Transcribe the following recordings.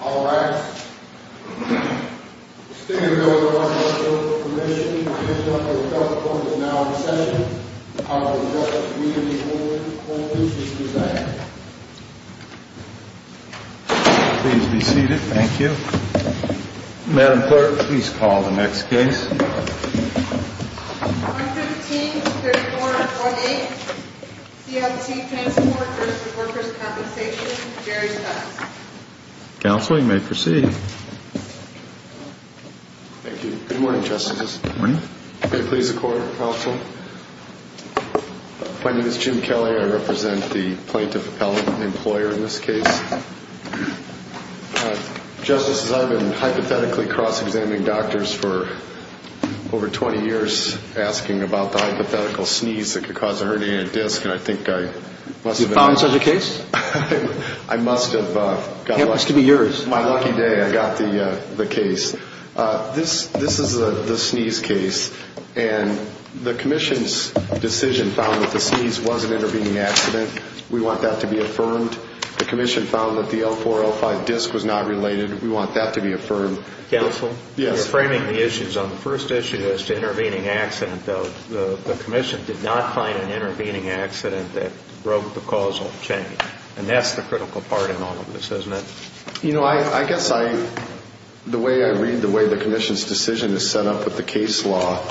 All rise. The Stinger Bill is now in session. I will now call the vote. Please be seated. Thank you. Madam Clerk, please call the next case. 115-3418, CLT Transport v. Workers' Compensation, Jerry Stutz. Counsel, you may proceed. Thank you. Good morning, Justices. Good morning. May it please the Court, Counsel. My name is Jim Kelly. I represent the Plaintiff Appellant, the employer in this case. Justices, I've been hypothetically cross-examining doctors for over 20 years, asking about the hypothetical sneeze that could cause a herniated disc, and I think I must have been wrong. You found such a case? I must have. It happens to be yours. On my lucky day, I got the case. This is the sneeze case, and the Commission's decision found that the sneeze was an intervening accident. We want that to be affirmed. The Commission found that the L4-L5 disc was not related. We want that to be affirmed. Counsel? Yes. You're framing the issues on the first issue as to intervening accident, though. The Commission did not find an intervening accident that broke the causal chain, and that's the critical part in all of this, isn't it? You know, I guess the way I read the way the Commission's decision is set up with the case law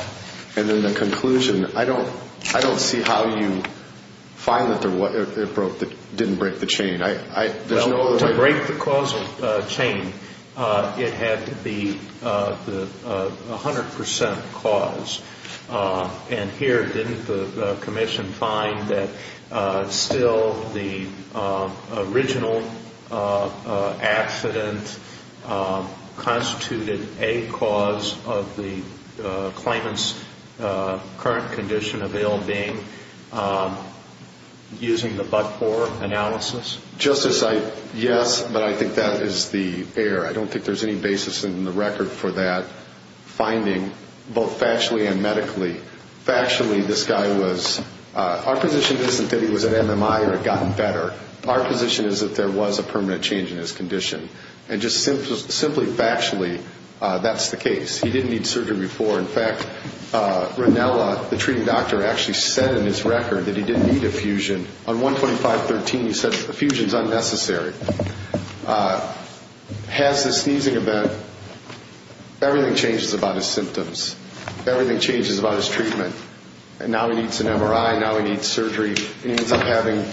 and then the conclusion, I don't see how you find that it didn't break the chain. Well, to break the causal chain, it had to be 100 percent cause, and here didn't the Commission find that still the original accident constituted a cause of the claimant's current condition of ill-being using the but-for analysis? Justice, yes, but I think that is the error. I don't think there's any basis in the record for that finding, both factually and medically. Factually, this guy was, our position isn't that he was at MMI or had gotten better. Our position is that there was a permanent change in his condition, and just simply factually, that's the case. He didn't need surgery before. In fact, Ranella, the treating doctor, actually said in his record that he didn't need a fusion. On 125.13, he said the fusion's unnecessary. Past the sneezing event, everything changes about his symptoms. Everything changes about his treatment, and now he needs an MRI, now he needs surgery, and he ends up having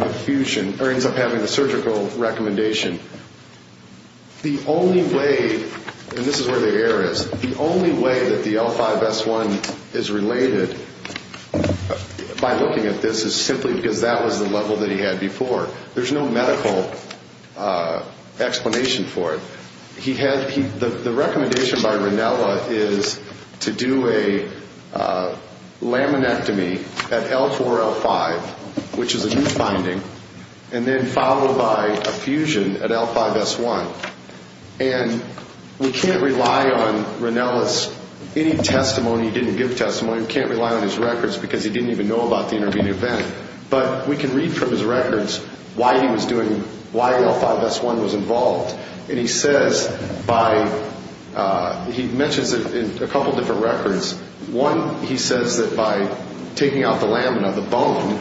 the fusion, or ends up having the surgical recommendation. The only way, and this is where the error is, the only way that the L5S1 is related by looking at this is simply because that was the level that he had before. There's no medical explanation for it. The recommendation by Ranella is to do a laminectomy at L4, L5, which is a new finding, and then followed by a fusion at L5S1. And we can't rely on Ranella's any testimony. He didn't give testimony. We can't rely on his records because he didn't even know about the intervening event. But we can read from his records why he was doing, why L5S1 was involved. And he says by, he mentions it in a couple different records. One, he says that by taking out the lamina, the bone,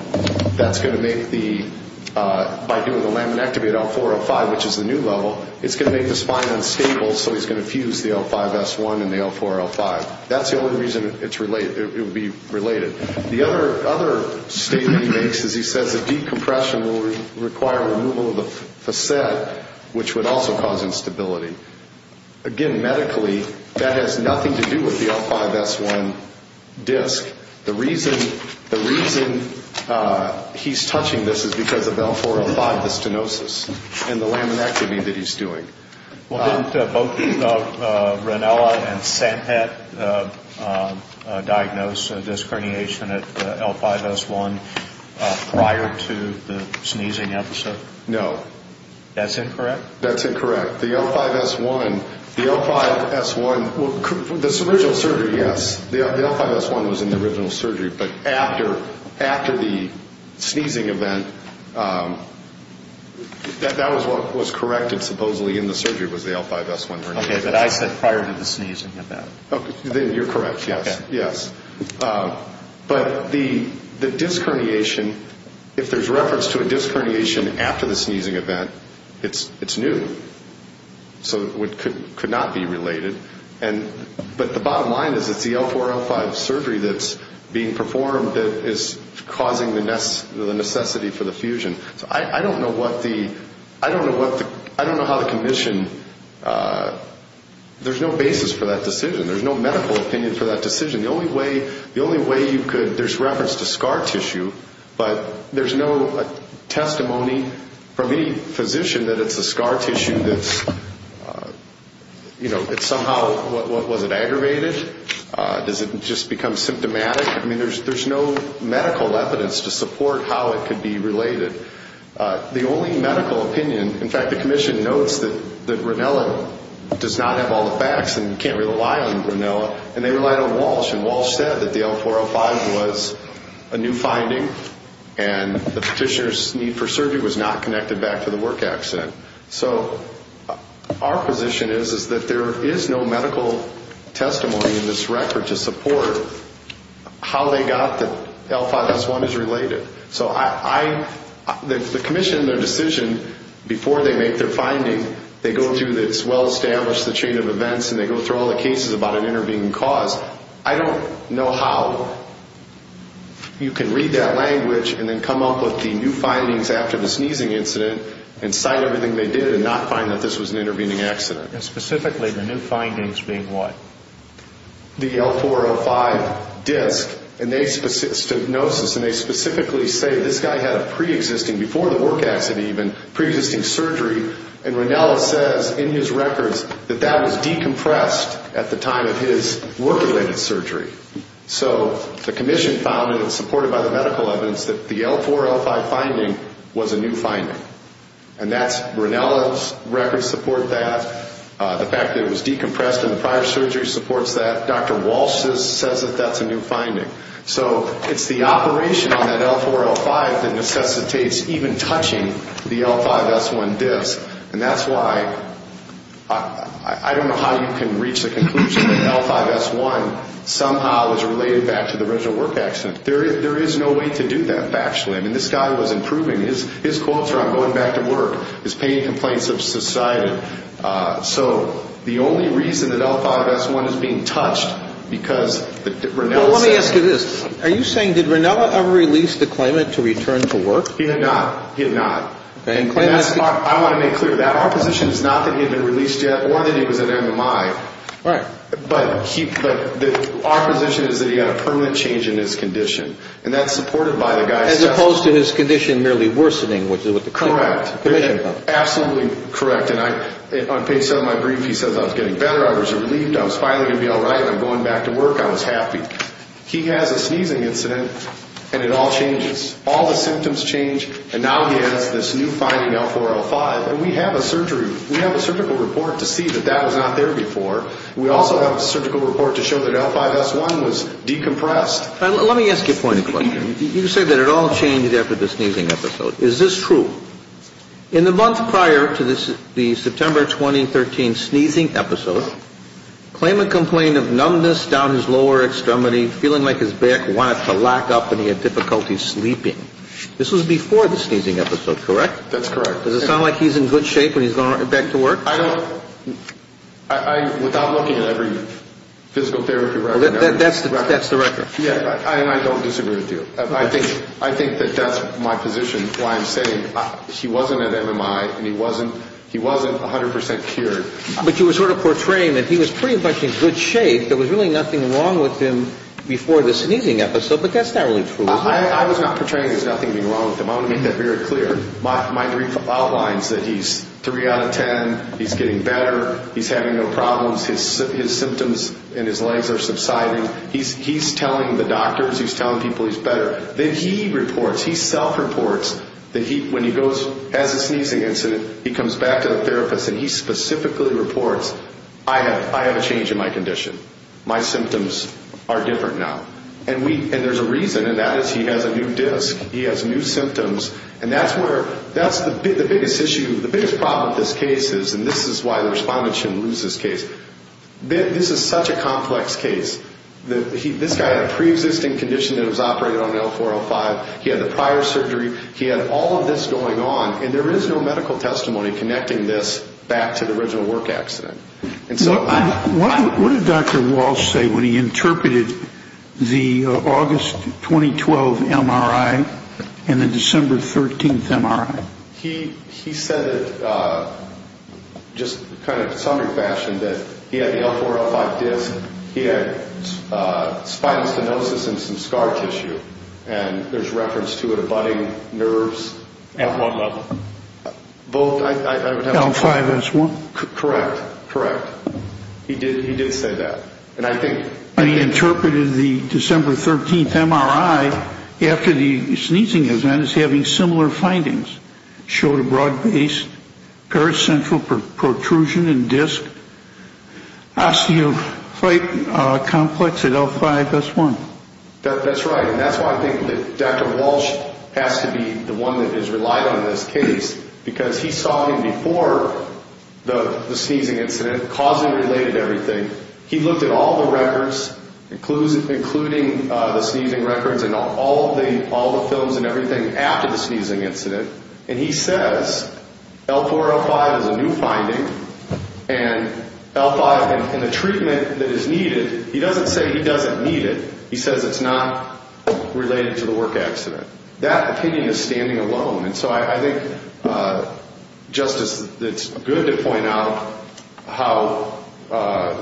that's going to make the, by doing a laminectomy at L4, L5, which is the new level, it's going to make the spine unstable, so he's going to fuse the L5S1 and the L4, L5. That's the only reason it's related, it would be related. The other statement he makes is he says a decompression will require removal of the facet, which would also cause instability. Again, medically, that has nothing to do with the L5S1 disc. The reason he's touching this is because of L4, L5, the stenosis and the laminectomy that he's doing. Well, didn't both Ranella and Sanpet diagnose disc herniation at L5S1 prior to the sneezing episode? No. That's incorrect? That's incorrect. The L5S1, the L5S1, this original surgery, yes, the L5S1 was in the original surgery. But after the sneezing event, that was what was corrected supposedly in the surgery was the L5S1 herniation. Okay, but I said prior to the sneezing event. Then you're correct, yes. Okay. Yes. But the disc herniation, if there's reference to a disc herniation after the sneezing event, it's new. So it could not be related. But the bottom line is it's the L4, L5 surgery that's being performed that is causing the necessity for the fusion. So I don't know how the commission, there's no basis for that decision. There's no medical opinion for that decision. The only way you could, there's reference to scar tissue, but there's no testimony from any physician that it's the scar tissue that's, you know, it's somehow, was it aggravated? Does it just become symptomatic? I mean, there's no medical evidence to support how it could be related. The only medical opinion, in fact, the commission notes that Ronella does not have all the facts and can't rely on Ronella, and they relied on Walsh. And Walsh said that the L4, L5 was a new finding, and the petitioner's need for surgery was not connected back to the work accident. So our position is that there is no medical testimony in this record to support how they got that L5, S1 is related. So I, the commission, their decision, before they make their finding, they go through this well-established chain of events, and they go through all the cases about an intervening cause. I don't know how you can read that language and then come up with the new findings after the sneezing incident and cite everything they did and not find that this was an intervening accident. And specifically, the new findings being what? The L4, L5 disc, and they, it's a diagnosis, and they specifically say this guy had a preexisting, before the work accident even, preexisting surgery, and Ronella says in his records that that was decompressed at the time of his work-related surgery. So the commission found, and it's supported by the medical evidence, that the L4, L5 finding was a new finding. And that's, Ronella's records support that. The fact that it was decompressed in the prior surgery supports that. Dr. Walsh says that that's a new finding. So it's the operation on that L4, L5 that necessitates even touching the L5, S1 disc. And that's why, I don't know how you can reach the conclusion that L5, S1 somehow is related back to the original work accident. There is no way to do that, factually. I mean, this guy was improving. His quotes are on going back to work, his pain complaints have subsided. So the only reason that L5, S1 is being touched because Ronella said Look at this. Are you saying did Ronella ever release the claimant to return to work? He did not. He did not. And I want to make clear that our position is not that he had been released yet or that he was at MMI. Right. But our position is that he had a permanent change in his condition. And that's supported by the guy's testimony. As opposed to his condition merely worsening, which is what the commission found. Correct. Absolutely correct. And on page 7 of my brief, he says I was getting better, I was relieved, I was finally going to be all right, I'm going back to work, I was happy. He has a sneezing incident and it all changes. All the symptoms change and now he has this new finding L4, L5. And we have a surgery, we have a surgical report to see that that was not there before. We also have a surgical report to show that L5, S1 was decompressed. Let me ask you a point of clarification. You say that it all changed after the sneezing episode. Is this true? In the month prior to the September 2013 sneezing episode, claim and complain of numbness down his lower extremity, feeling like his back wanted to lock up and he had difficulty sleeping. This was before the sneezing episode, correct? That's correct. Does it sound like he's in good shape and he's going back to work? I don't, without looking at every physical therapy record. That's the record. Yeah, and I don't disagree with you. I think that that's my position, why I'm saying he wasn't at MMI and he wasn't 100% cured. But you were sort of portraying that he was pretty much in good shape. There was really nothing wrong with him before the sneezing episode, but that's not really true. I was not portraying there's nothing being wrong with him. I want to make that very clear. My report outlines that he's 3 out of 10. He's getting better. He's having no problems. His symptoms in his legs are subsiding. He's telling the doctors, he's telling people he's better. Then he reports, he self-reports that when he goes, has a sneezing incident, he comes back to the therapist and he specifically reports, I have a change in my condition. My symptoms are different now. And there's a reason, and that is he has a new disc. He has new symptoms. And that's where, that's the biggest issue, the biggest problem with this case is, and this is why the respondents shouldn't lose this case, this is such a complex case. This guy had a pre-existing condition that was operated on L4-L5. He had the prior surgery. He had all of this going on. And there is no medical testimony connecting this back to the original work accident. What did Dr. Walsh say when he interpreted the August 2012 MRI and the December 13th MRI? He said it just kind of sundry fashion that he had the L4-L5 disc. He had spinal stenosis and some scar tissue. And there's reference to it abutting nerves at one level. L5-S1. Correct, correct. He did say that. And he interpreted the December 13th MRI after the sneezing event as having similar findings. Showed a broad base, paracentral protrusion and disc, osteophyte complex at L5-S1. That's right. And that's why I think that Dr. Walsh has to be the one that is relied on in this case because he saw him before the sneezing incident, causally related to everything. He looked at all the records, including the sneezing records and all the films and everything, after the sneezing incident. And he says L4-L5 is a new finding and L5 and the treatment that is needed, he doesn't say he doesn't need it. He says it's not related to the work accident. That opinion is standing alone. And so I think, Justice, it's good to point out how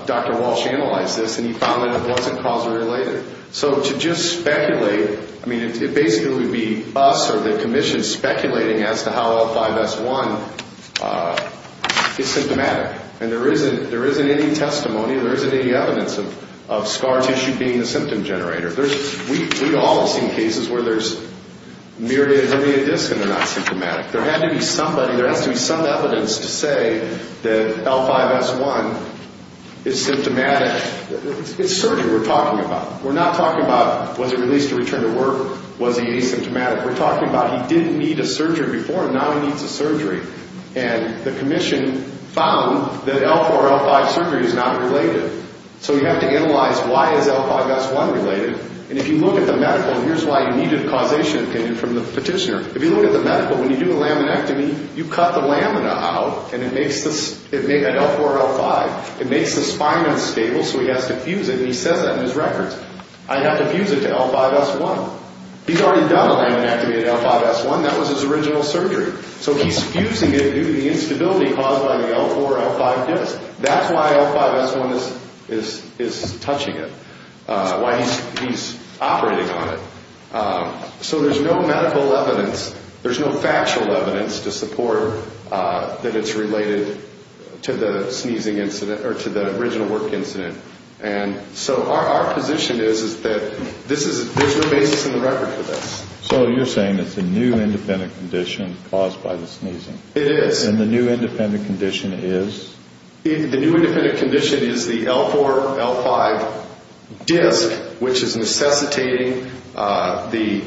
Dr. Walsh analyzed this and he found that it wasn't causally related. So to just speculate, I mean, it basically would be us or the Commission speculating as to how L5-S1 is symptomatic. And there isn't any testimony, there isn't any evidence of scar tissue being the symptom generator. We've all seen cases where there's myriad of discs and they're not symptomatic. There had to be somebody, there has to be some evidence to say that L5-S1 is symptomatic. It's surgery we're talking about. We're not talking about was it released to return to work, was he asymptomatic. We're talking about he didn't need a surgery before and now he needs a surgery. And the Commission found that L4-L5 surgery is not related. So we have to analyze why is L5-S1 related. And if you look at the medical, and here's why you needed a causation opinion from the petitioner. If you look at the medical, when you do a laminectomy, you cut the lamina out and it makes the L4-L5. It makes the spine unstable so he has to fuse it, and he says that in his records. I have to fuse it to L5-S1. He's already done a laminectomy to L5-S1. That was his original surgery. So he's fusing it due to the instability caused by the L4-L5 disk. That's why L5-S1 is touching it, why he's operating on it. So there's no medical evidence. There's no factual evidence to support that it's related to the sneezing incident or to the original work incident. And so our position is that there's no basis in the record for this. So you're saying it's a new independent condition caused by the sneezing. It is. And the new independent condition is? The new independent condition is the L4-L5 disk, which is necessitating the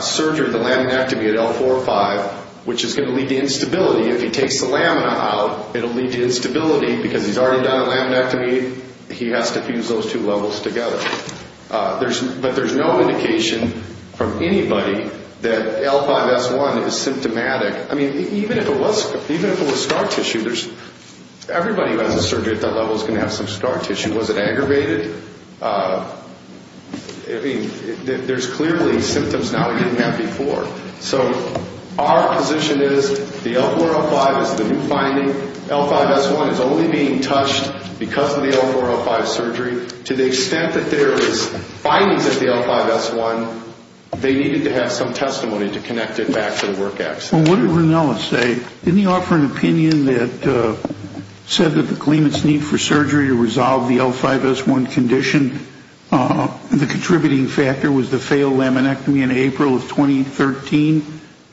surgery, the laminectomy at L4-L5, which is going to lead to instability. If he takes the lamina out, it will lead to instability because he's already done a laminectomy. He has to fuse those two levels together. But there's no indication from anybody that L5-S1 is symptomatic. I mean, even if it was scar tissue, everybody who has a surgery at that level is going to have some scar tissue. Was it aggravated? There's clearly symptoms now he didn't have before. So our position is the L4-L5 is the new finding. L5-S1 is only being touched because of the L4-L5 surgery. To the extent that there is findings of the L5-S1, they needed to have some testimony to connect it back to the work accident. Well, what did Ranella say? Didn't he offer an opinion that said that the claimant's need for surgery to resolve the L5-S1 condition, the contributing factor was the failed laminectomy in April of 2013,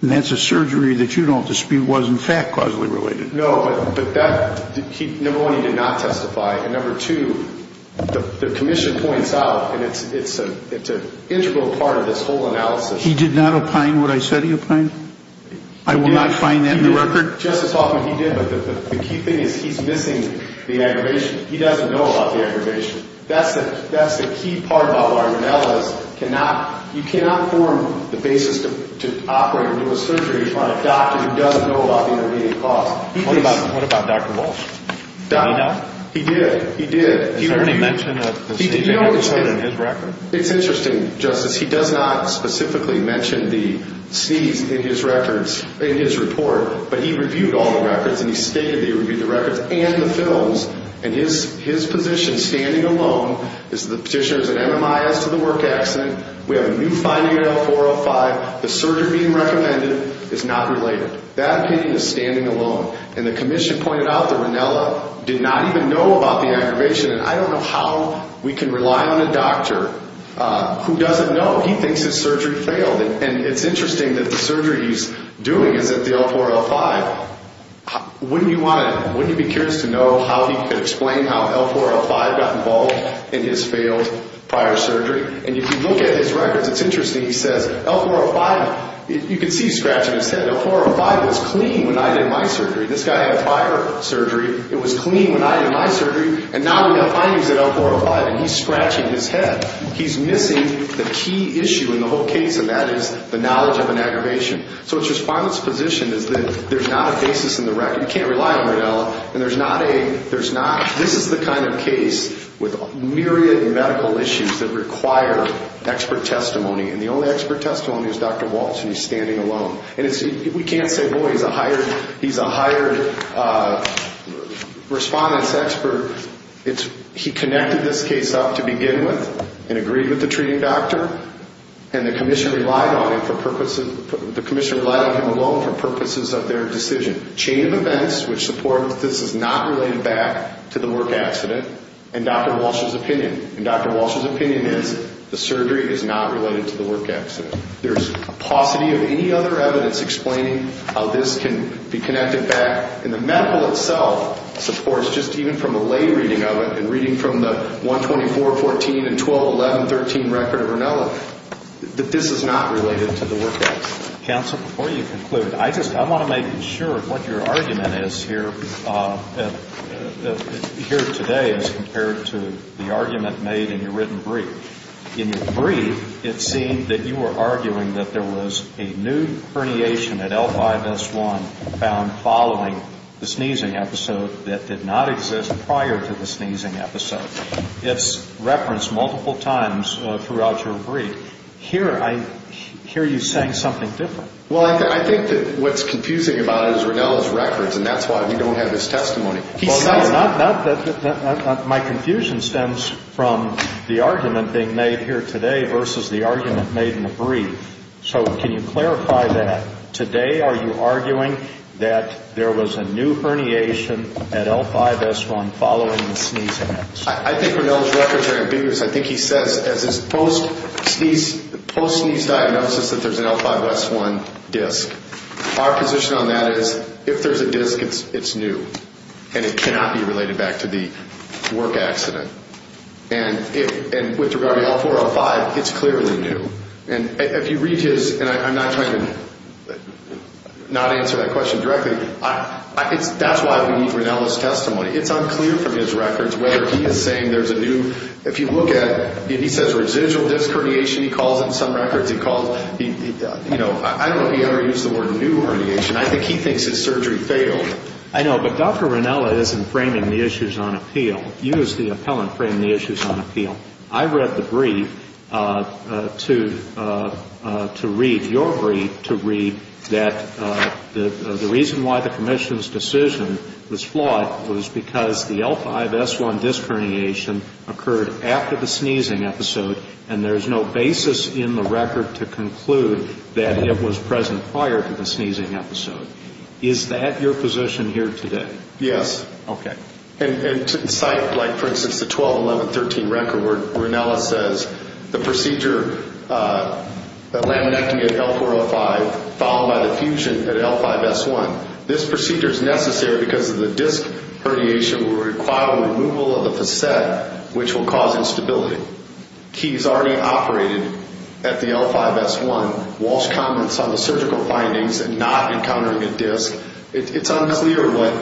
and that's a surgery that you don't dispute was, in fact, causally related? No, but that, number one, he did not testify. And number two, the commission points out, and it's an integral part of this whole analysis. He did not opine what I said he opined? I will not find that in the record? Justice Hoffman, he did, but the key thing is he's missing the aggravation. He doesn't know about the aggravation. That's the key part about why Ranella is you cannot form the basis to operate and do a surgery on a doctor who doesn't know about the intervening cause. What about Dr. Walsh? He did. He did. Did he mention a sneeze in his record? It's interesting, Justice. He does not specifically mention the sneeze in his records, in his report, but he reviewed all the records, and he stated that he reviewed the records and the films, and his position, standing alone, is the petitioner's an MMIS to the work accident. We have a new finding at L405. The surgery being recommended is not related. That opinion is standing alone. And the commission pointed out that Ranella did not even know about the aggravation, and I don't know how we can rely on a doctor who doesn't know. He thinks his surgery failed, and it's interesting that the surgery he's doing is at the L405. Wouldn't you be curious to know how he could explain how L405 got involved in his failed prior surgery? And if you look at his records, it's interesting. He says L405, you can see he's scratching his head. L405 was clean when I did my surgery. This guy had prior surgery. It was clean when I did my surgery, and now we have findings at L405, and he's scratching his head. He's missing the key issue in the whole case, and that is the knowledge of an aggravation. So his respondents' position is that there's not a basis in the record. You can't rely on Ranella, and there's not a, there's not, this is the kind of case with myriad medical issues that require expert testimony, and the only expert testimony is Dr. Walsh, and he's standing alone. And it's, we can't say, boy, he's a hired, he's a hired respondent's expert. It's, he connected this case up to begin with and agreed with the treating doctor, and the commissioner relied on him for purposes, the commissioner relied on him alone for purposes of their decision. Chain of events which supports this is not related back to the work accident, and Dr. Walsh's opinion. And Dr. Walsh's opinion is the surgery is not related to the work accident. There's paucity of any other evidence explaining how this can be connected back, and the medical itself supports just even from a lay reading of it, and reading from the 124.14 and 12.11.13 record of Ranella, that this is not related to the work accident. Counsel, before you conclude, I just, I want to make sure what your argument is here today as compared to the argument made in your written brief. In your brief, it seemed that you were arguing that there was a new herniation at L5S1 found following the sneezing episode that did not exist prior to the sneezing episode. It's referenced multiple times throughout your brief. Here, I hear you saying something different. Well, I think that what's confusing about it is Ranella's records, and that's why we don't have his testimony. He says that. My confusion stems from the argument being made here today versus the argument made in the brief. So can you clarify that? Today, are you arguing that there was a new herniation at L5S1 following the sneezing episode? I think Ranella's records are ambiguous. I think he says as his post-sneeze diagnosis that there's an L5S1 disc. Our position on that is if there's a disc, it's new, and it cannot be related back to the work accident. And with regard to L405, it's clearly new. And if you read his, and I'm not trying to not answer that question directly, that's why we need Ranella's testimony. It's unclear from his records whether he is saying there's a new, if you look at, if he says residual disc herniation, he calls in some records, he calls, you know, I don't know if he ever used the word new herniation. I think he thinks his surgery failed. I know, but Dr. Ranella isn't framing the issues on appeal. You as the appellant frame the issues on appeal. I read the brief to read your brief to read that the reason why the commission's decision was flawed was because the L5S1 disc herniation occurred after the sneezing episode, and there's no basis in the record to conclude that it was present prior to the sneezing episode. Is that your position here today? Yes. Okay. And to incite, like, for instance, the 12-11-13 record where Ranella says the procedure, the laminectomy at L405, followed by the fusion at L5S1, this procedure is necessary because the disc herniation will require removal of the facet, which will cause instability. Keys already operated at the L5S1. Walsh comments on the surgical findings and not encountering a disc. It's unclear what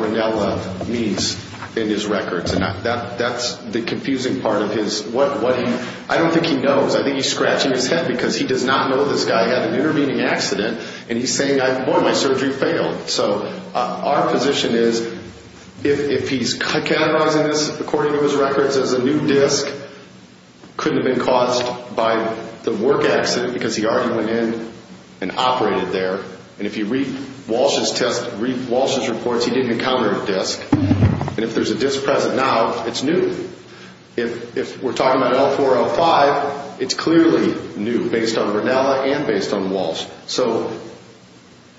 Ranella means in his records, and that's the confusing part of his, what he, I don't think he knows. I think he's scratching his head because he does not know this guy had an intervening accident, and he's saying, boy, my surgery failed. So our position is if he's categorizing this according to his records as a new disc, couldn't have been caused by the work accident because he already went in and operated there. And if you read Walsh's test, read Walsh's reports, he didn't encounter a disc. And if there's a disc present now, it's new. If we're talking about L405, it's clearly new based on Ranella and based on Walsh. So,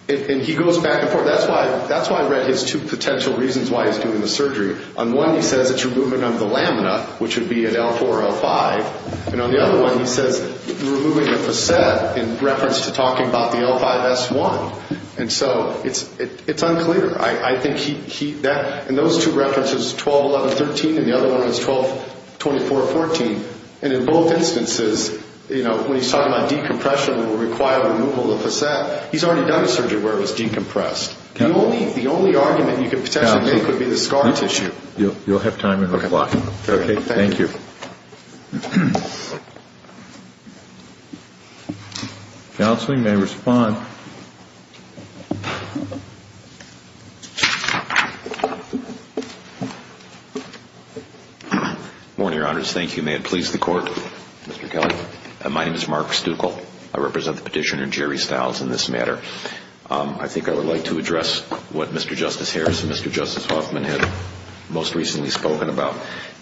and he goes back and forth. That's why I read his two potential reasons why he's doing the surgery. On one, he says it's removing of the lamina, which would be at L405. And on the other one, he says removing the facet in reference to talking about the L5S1. And so it's unclear. I think he, that, and those two references, 12, 11, 13, and the other one is 12, 24, 14. And in both instances, you know, when he's talking about decompression that would require removal of the facet, he's already done a surgery where it was decompressed. The only argument you could potentially make would be the scar tissue. You'll have time in a little while. Okay. Thank you. Counseling may respond. Good morning, Your Honors. Thank you. May it please the Court, Mr. Kelly. My name is Mark Stuckel. I represent the petitioner, Jerry Stiles, in this matter. I think I would like to address what Mr. Justice Harris and Mr. Justice Hoffman had most recently spoken about.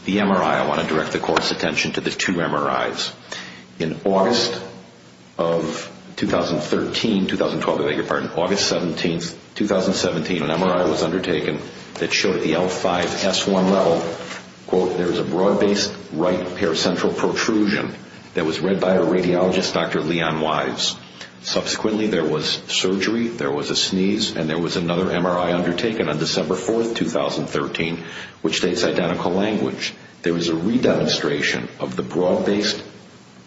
The MRI. I want to direct the Court's attention to the two MRIs. In August of 2013, 2012, if I may be pardoned, August 17th, 2017, an MRI was undertaken that showed at the L5S1 level, quote, there was a broad-based right paracentral protrusion that was read by a radiologist, Dr. Leon Wise. Subsequently, there was surgery, there was a sneeze, and there was another MRI undertaken on December 4th, 2013, which states identical language. There was a redemonstration of the broad-based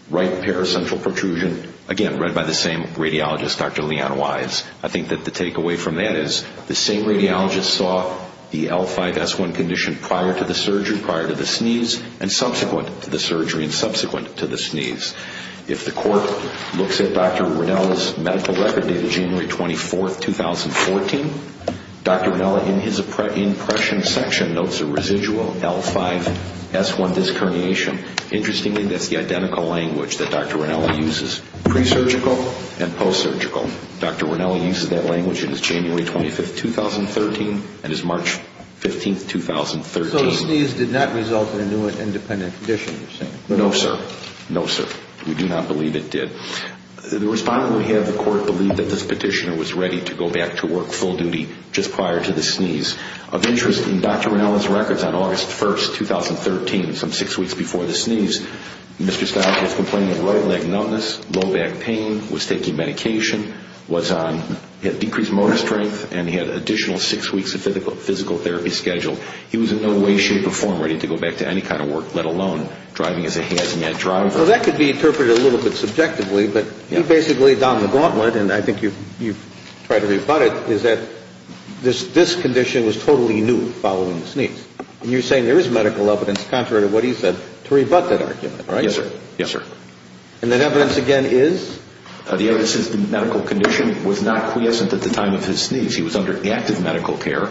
right paracentral protrusion, again, read by the same radiologist, Dr. Leon Wise. I think that the takeaway from that is the same radiologist saw the L5S1 condition prior to the surgery, prior to the sneeze, and subsequent to the surgery, and subsequent to the sneeze. If the Court looks at Dr. Ronnella's medical record dated January 24th, 2014, Dr. Ronnella in his impression section notes a residual L5S1 disc herniation. Interestingly, that's the identical language that Dr. Ronnella uses pre-surgical and post-surgical. Dr. Ronnella uses that language. It is January 25th, 2013, and is March 15th, 2013. So the sneeze did not result in a new and independent condition, you're saying? No, sir. No, sir. We do not believe it did. The respondent we have, the Court believed that this petitioner was ready to go back to work full duty just prior to the sneeze. Of interest in Dr. Ronnella's records on August 1st, 2013, some six weeks before the sneeze, Mr. Stiles was complaining of right leg numbness, low back pain, was taking medication, had decreased motor strength, and he had an additional six weeks of physical therapy scheduled. He was in no way, shape, or form ready to go back to any kind of work, let alone driving as a hazmat driver. So that could be interpreted a little bit subjectively, but basically down the gauntlet, and I think you've tried to rebut it, is that this condition was totally new following the sneeze. And you're saying there is medical evidence contrary to what he said to rebut that argument, right? Yes, sir. Yes, sir. And that evidence again is? The evidence is the medical condition was not quiescent at the time of his sneeze. He was under active medical care.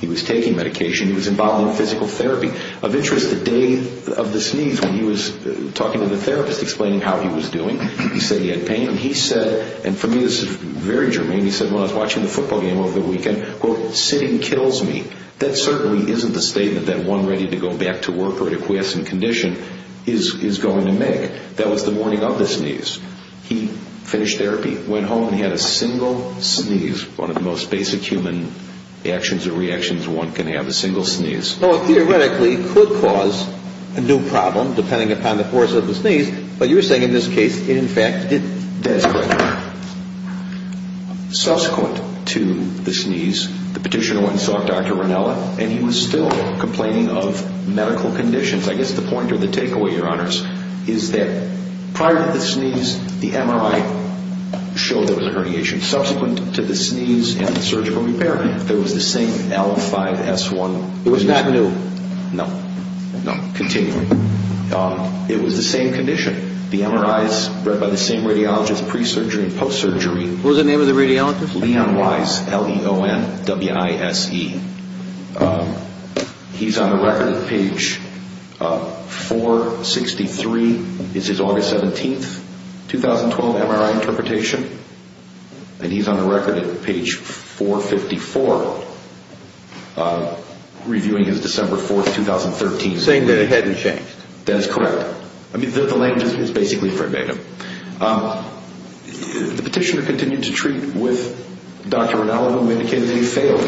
He was taking medication. He was involved in physical therapy. Of interest, the day of the sneeze when he was talking to the therapist explaining how he was doing, he said he had pain, and he said, and for me this is very germane, he said, when I was watching the football game over the weekend, quote, sitting kills me. That certainly isn't the statement that one ready to go back to work or in a quiescent condition is going to make. That was the morning of the sneeze. He finished therapy, went home, and he had a single sneeze, which is one of the most basic human actions or reactions one can have, a single sneeze. Well, theoretically, it could cause a new problem depending upon the force of the sneeze, but you're saying in this case it in fact didn't. That's correct. Subsequent to the sneeze, the petitioner went and saw Dr. Ranella, and he was still complaining of medical conditions. I guess the point or the takeaway, Your Honors, is that prior to the sneeze, the MRI showed there was a herniation. Subsequent to the sneeze and the surgical repair, there was the same L5S1. It was not new. No, no, continually. It was the same condition. The MRI is read by the same radiologist pre-surgery and post-surgery. What was the name of the radiologist? Leon Wise, L-E-O-N-W-I-S-E. He's on the record at page 463. This is August 17, 2012, MRI interpretation. And he's on the record at page 454, reviewing his December 4, 2013. Saying that it hadn't changed. That is correct. I mean, the language is basically verbatim. The petitioner continued to treat with Dr. Ranella, who indicated that he failed.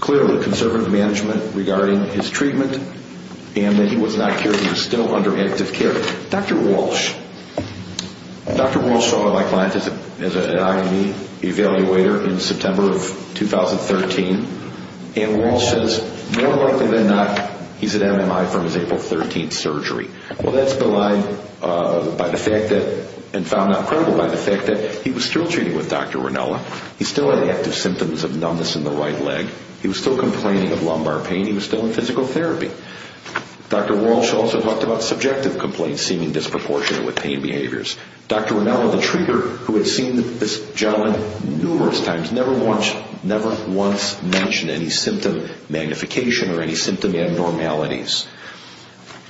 Clearly, conservative management regarding his treatment, and that he was not cured. He was still under active care. Dr. Walsh. Dr. Walsh saw my client as an IV evaluator in September of 2013, and Walsh says, more likely than not, he's at MMI from his April 13 surgery. Well, that's belied by the fact that, and found not credible by the fact that he was still treating with Dr. Ranella. He still had active symptoms of numbness in the right leg. He was still complaining of lumbar pain. He was still in physical therapy. Dr. Walsh also talked about subjective complaints seeming disproportionate with pain behaviors. Dr. Ranella, the treater who had seen this gentleman numerous times, never once mentioned any symptom magnification or any symptom abnormalities.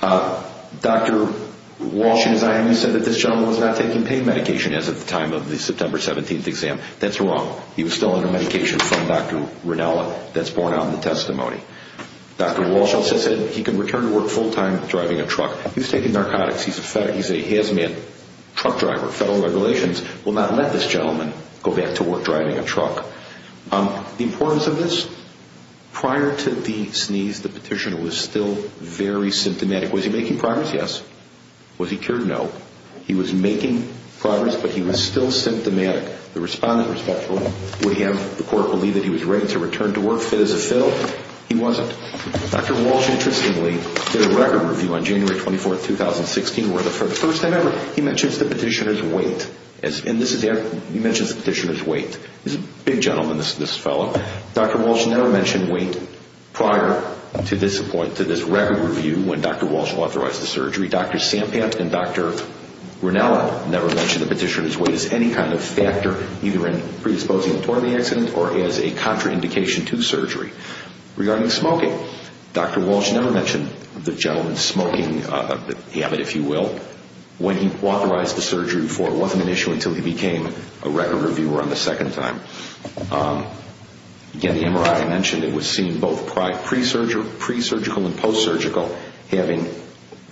Dr. Walsh, as I understand, said that this gentleman was not taking pain medication as of the time of the September 17th exam. That's wrong. He was still under medication from Dr. Ranella. That's borne out in the testimony. Dr. Walsh also said he could return to work full-time driving a truck. He was taking narcotics. He's a hazmat truck driver. Federal regulations will not let this gentleman go back to work driving a truck. The importance of this, prior to the sneeze, the petitioner was still very symptomatic. Was he making progress? Yes. Was he cured? No. He was making progress, but he was still symptomatic. The respondent was hopeful. Would he have the court believe that he was ready to return to work, fit as a fiddle? He wasn't. Dr. Walsh, interestingly, did a record review on January 24th, 2016, where for the first time ever he mentions the petitioner's weight. He mentions the petitioner's weight. He's a big gentleman, this fellow. Dr. Walsh never mentioned weight prior to this point, to this record review, when Dr. Walsh authorized the surgery. Dr. Sampant and Dr. Rinella never mentioned the petitioner's weight as any kind of factor, either in predisposing him toward the accident or as a contraindication to surgery. Regarding smoking, Dr. Walsh never mentioned the gentleman's smoking habit, if you will, when he authorized the surgery before. It wasn't an issue until he became a record reviewer on the second time. Again, the MRI mentioned it was seen both pre-surgical and post-surgical, having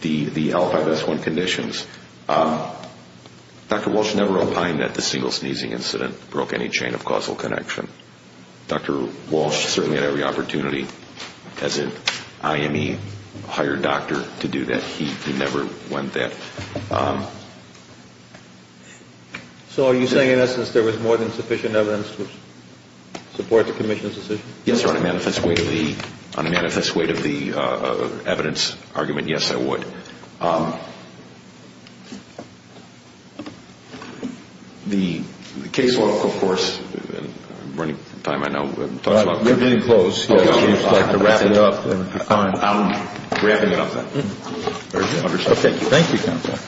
the L5S1 conditions. Dr. Walsh never opined that the single sneezing incident broke any chain of causal connection. Dr. Walsh certainly had every opportunity, as an IME-hired doctor, to do that. He never went there. So are you saying, in essence, there was more than sufficient evidence to support the commission's decision? Yes, sir. On a manifest weight of the evidence argument, yes, there was. The case law, of course, and we're running out of time, I know. We're getting close. If you'd like to wrap it up. Okay. Thank you, counsel. Thank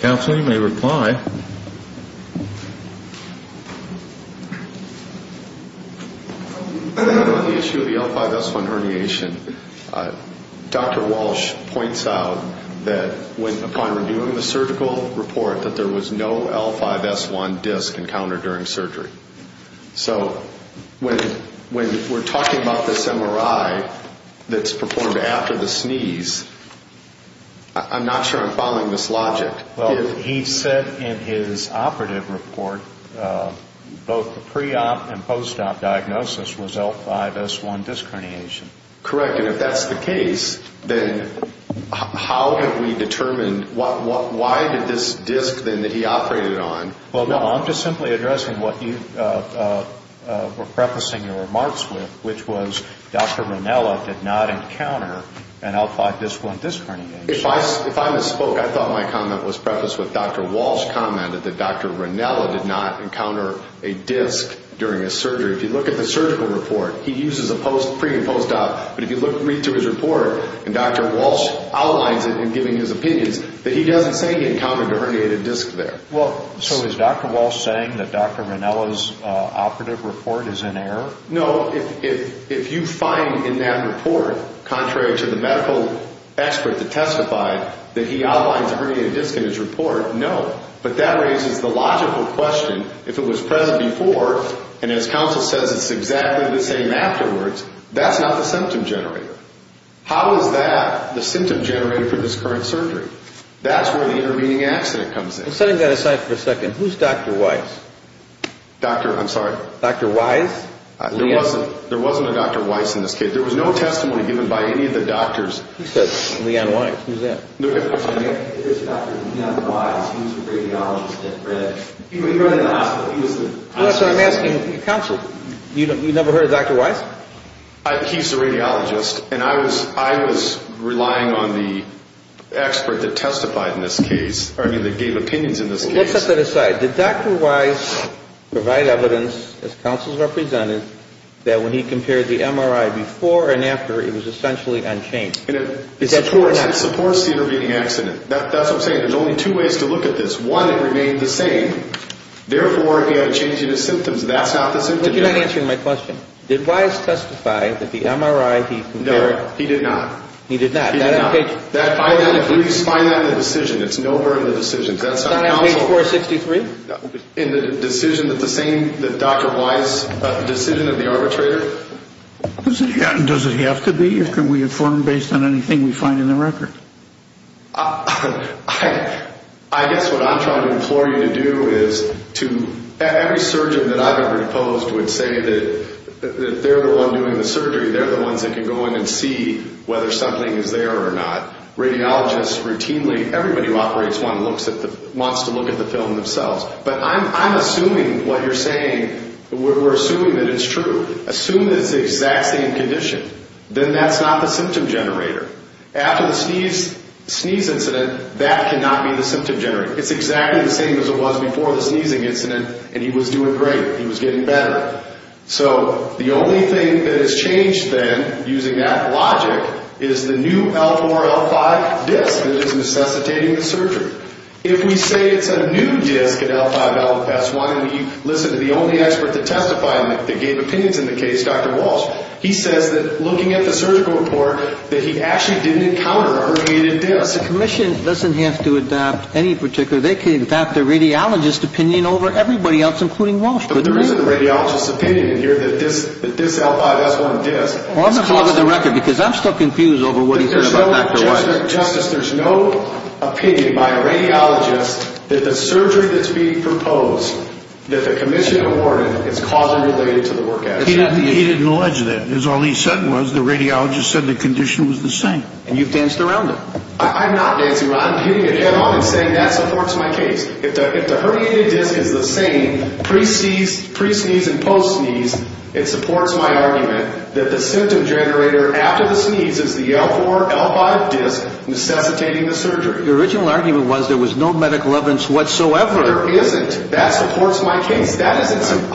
you. Counsel, you may reply. On the issue of the L5S1 herniation, Dr. Walsh points out that upon reviewing the surgical report, that there was no L5S1 disc encountered during surgery. So when we're talking about this MRI that's performed after the sneeze, I'm not sure I'm following this logic. Well, he said in his operative report, both the pre-op and post-op diagnosis was L5S1 disc herniation. Correct. And if that's the case, then how have we determined, why did this disc then that he operated on? Well, no, I'm just simply addressing what you were prefacing your remarks with, which was Dr. Ranella did not encounter an L5S1 disc herniation. If I misspoke, I thought my comment was prefaced with Dr. Walsh commented that Dr. Ranella did not encounter a disc during his surgery. If you look at the surgical report, he uses a pre- and post-op, but if you read through his report, and Dr. Walsh outlines it in giving his opinions, that he doesn't say he encountered a herniated disc there. Well, so is Dr. Walsh saying that Dr. Ranella's operative report is in error? No, if you find in that report, contrary to the medical expert that testified, that he outlines a herniated disc in his report, no. But that raises the logical question, if it was present before, and his counsel says it's exactly the same afterwards, that's not the symptom generator. How is that the symptom generator for this current surgery? That's where the intervening accident comes in. Setting that aside for a second, who's Dr. Weiss? Doctor, I'm sorry? Dr. Weiss? There wasn't a Dr. Weiss in this case. There was no testimony given by any of the doctors. Who says Leon Weiss? Who's that? If there's Dr. Leon Weiss, he's a radiologist at Red. He ran the hospital. He was the... Well, that's what I'm asking counsel. You never heard of Dr. Weiss? He's a radiologist, and I was relying on the expert that testified in this case, or I mean that gave opinions in this case. Let's set that aside. Did Dr. Weiss provide evidence, as counsel has represented, that when he compared the MRI before and after, it was essentially unchanged? It supports the intervening accident. That's what I'm saying. There's only two ways to look at this. One, it remained the same. Therefore, he had a change in his symptoms. That's not the symptom generator. You're not answering my question. Did Weiss testify that the MRI he compared... No, he did not. He did not? He did not. I don't agree. You just find that in the decision. It's nowhere in the decisions. That's on counsel. It's not on page 463? No. In the decision that the same... The Dr. Weiss decision of the arbitrator? Does it have to be? Can we inform based on anything we find in the record? I guess what I'm trying to implore you to do is to... Every surgeon that I've ever opposed would say that they're the one doing the surgery. They're the ones that can go in and see whether something is there or not. Radiologists routinely... Everybody who operates one wants to look at the film themselves. But I'm assuming what you're saying... We're assuming that it's true. Assume that it's the exact same condition. Then that's not the symptom generator. After the sneeze incident, that cannot be the symptom generator. It's exactly the same as it was before the sneezing incident, and he was doing great. He was getting better. So the only thing that has changed then, using that logic, is the new L4-L5 disc that is necessitating the surgery. If we say it's a new disc at L5-LFS1, and we listen to the only expert to testify and that gave opinions in the case, Dr. Walsh, he says that, looking at the surgical report, that he actually didn't encounter a herniated disc. The commission doesn't have to adopt any particular... They can adopt the radiologist's opinion over everybody else, including Walsh. But there is a radiologist's opinion in here that this L5-S1 disc... Well, I'm going to call it with a record, because I'm still confused over what he said about Dr. Walsh. Justice, there's no opinion by a radiologist that the surgery that's being proposed, that the commission awarded, is causally related to the work ethic. He didn't allege that. All he said was the radiologist said the condition was the same. And you've danced around it. I'm not dancing around it. I'm hitting the kettle and saying that supports my case. If the herniated disc is the same pre-sneeze, pre-sneeze, and post-sneeze, it supports my argument that the symptom generator after the sneeze is the L4-L5 disc necessitating the surgery. The original argument was there was no medical evidence whatsoever. There isn't. That supports my case. I don't know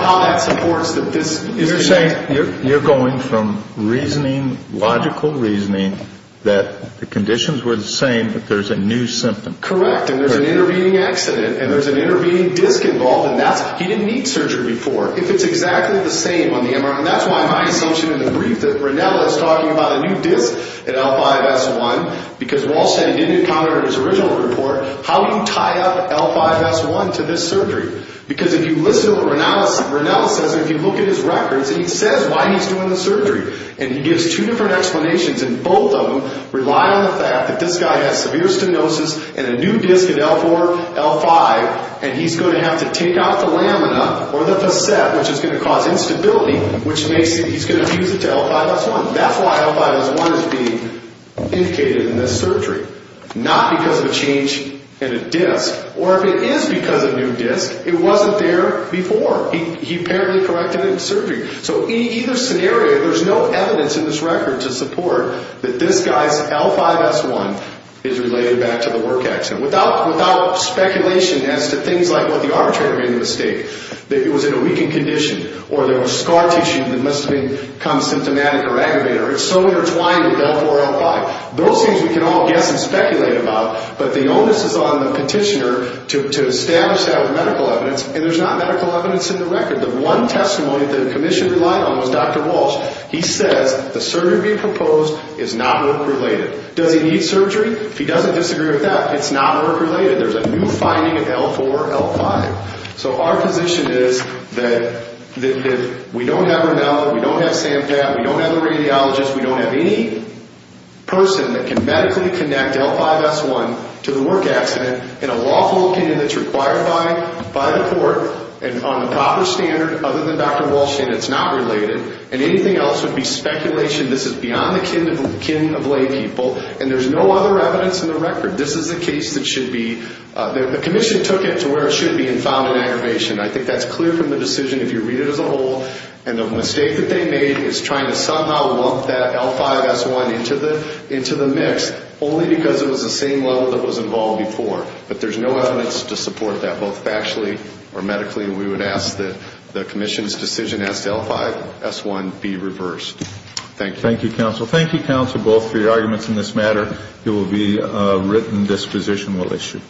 how that supports that this... You're saying you're going from reasoning, logical reasoning, that the conditions were the same, but there's a new symptom. Correct. And there's an intervening accident, and there's an intervening disc involved, and he didn't need surgery before. If it's exactly the same on the MRI, and that's why my assumption in the brief that Ranella is talking about a new disc in L5-S1, because Walsh said he didn't encounter it in his original report, how do you tie up L5-S1 to this surgery? Because if you listen to what Ranella says, and if you look at his records, he says why he's doing the surgery. And he gives two different explanations, and both of them rely on the fact that this guy has severe stenosis and a new disc in L4-L5, and he's going to have to take out the lamina or the facet, which is going to cause instability, which makes it... He's going to fuse it to L5-S1. That's why L5-S1 is being indicated in this surgery, not because of a change in a disc, or if it is because of a new disc, it wasn't there before. He apparently corrected it in surgery. So in either scenario, there's no evidence in this record to support that this guy's L5-S1 is related back to the work accident without speculation as to things like what the arm trainer made a mistake, that it was in a weakened condition, or there was scar tissue that must have become symptomatic or aggravated, or it's so intertwined with L4-L5. Those things we can all guess and speculate about, but the onus is on the petitioner to establish that with medical evidence, and there's not medical evidence in the record. The one testimony that the commission relied on was Dr. Walsh. He says the surgery being proposed is not work-related. Does he need surgery? If he doesn't disagree with that, it's not work-related. There's a new finding of L4-L5. So our position is that if we don't have Ronel, we don't have Sam Pat, we don't have a radiologist, we don't have any person that can medically connect the L5-S1 to the work accident in a lawful opinion that's required by the court and on the proper standard other than Dr. Walsh and it's not related, and anything else would be speculation. This is beyond the kin of laypeople, and there's no other evidence in the record. This is a case that should be the commission took it to where it should be and found an aggravation. I think that's clear from the decision if you read it as a whole, and the mistake that they made is trying to somehow lump that L5-S1 into the mix only because it was the same level that was involved before. But there's no evidence to support that, both factually or medically. We would ask that the commission's decision as to L5-S1 be reversed. Thank you. Thank you, counsel. Thank you, counsel, both for your arguments in this matter. It will be a written disposition we'll issue.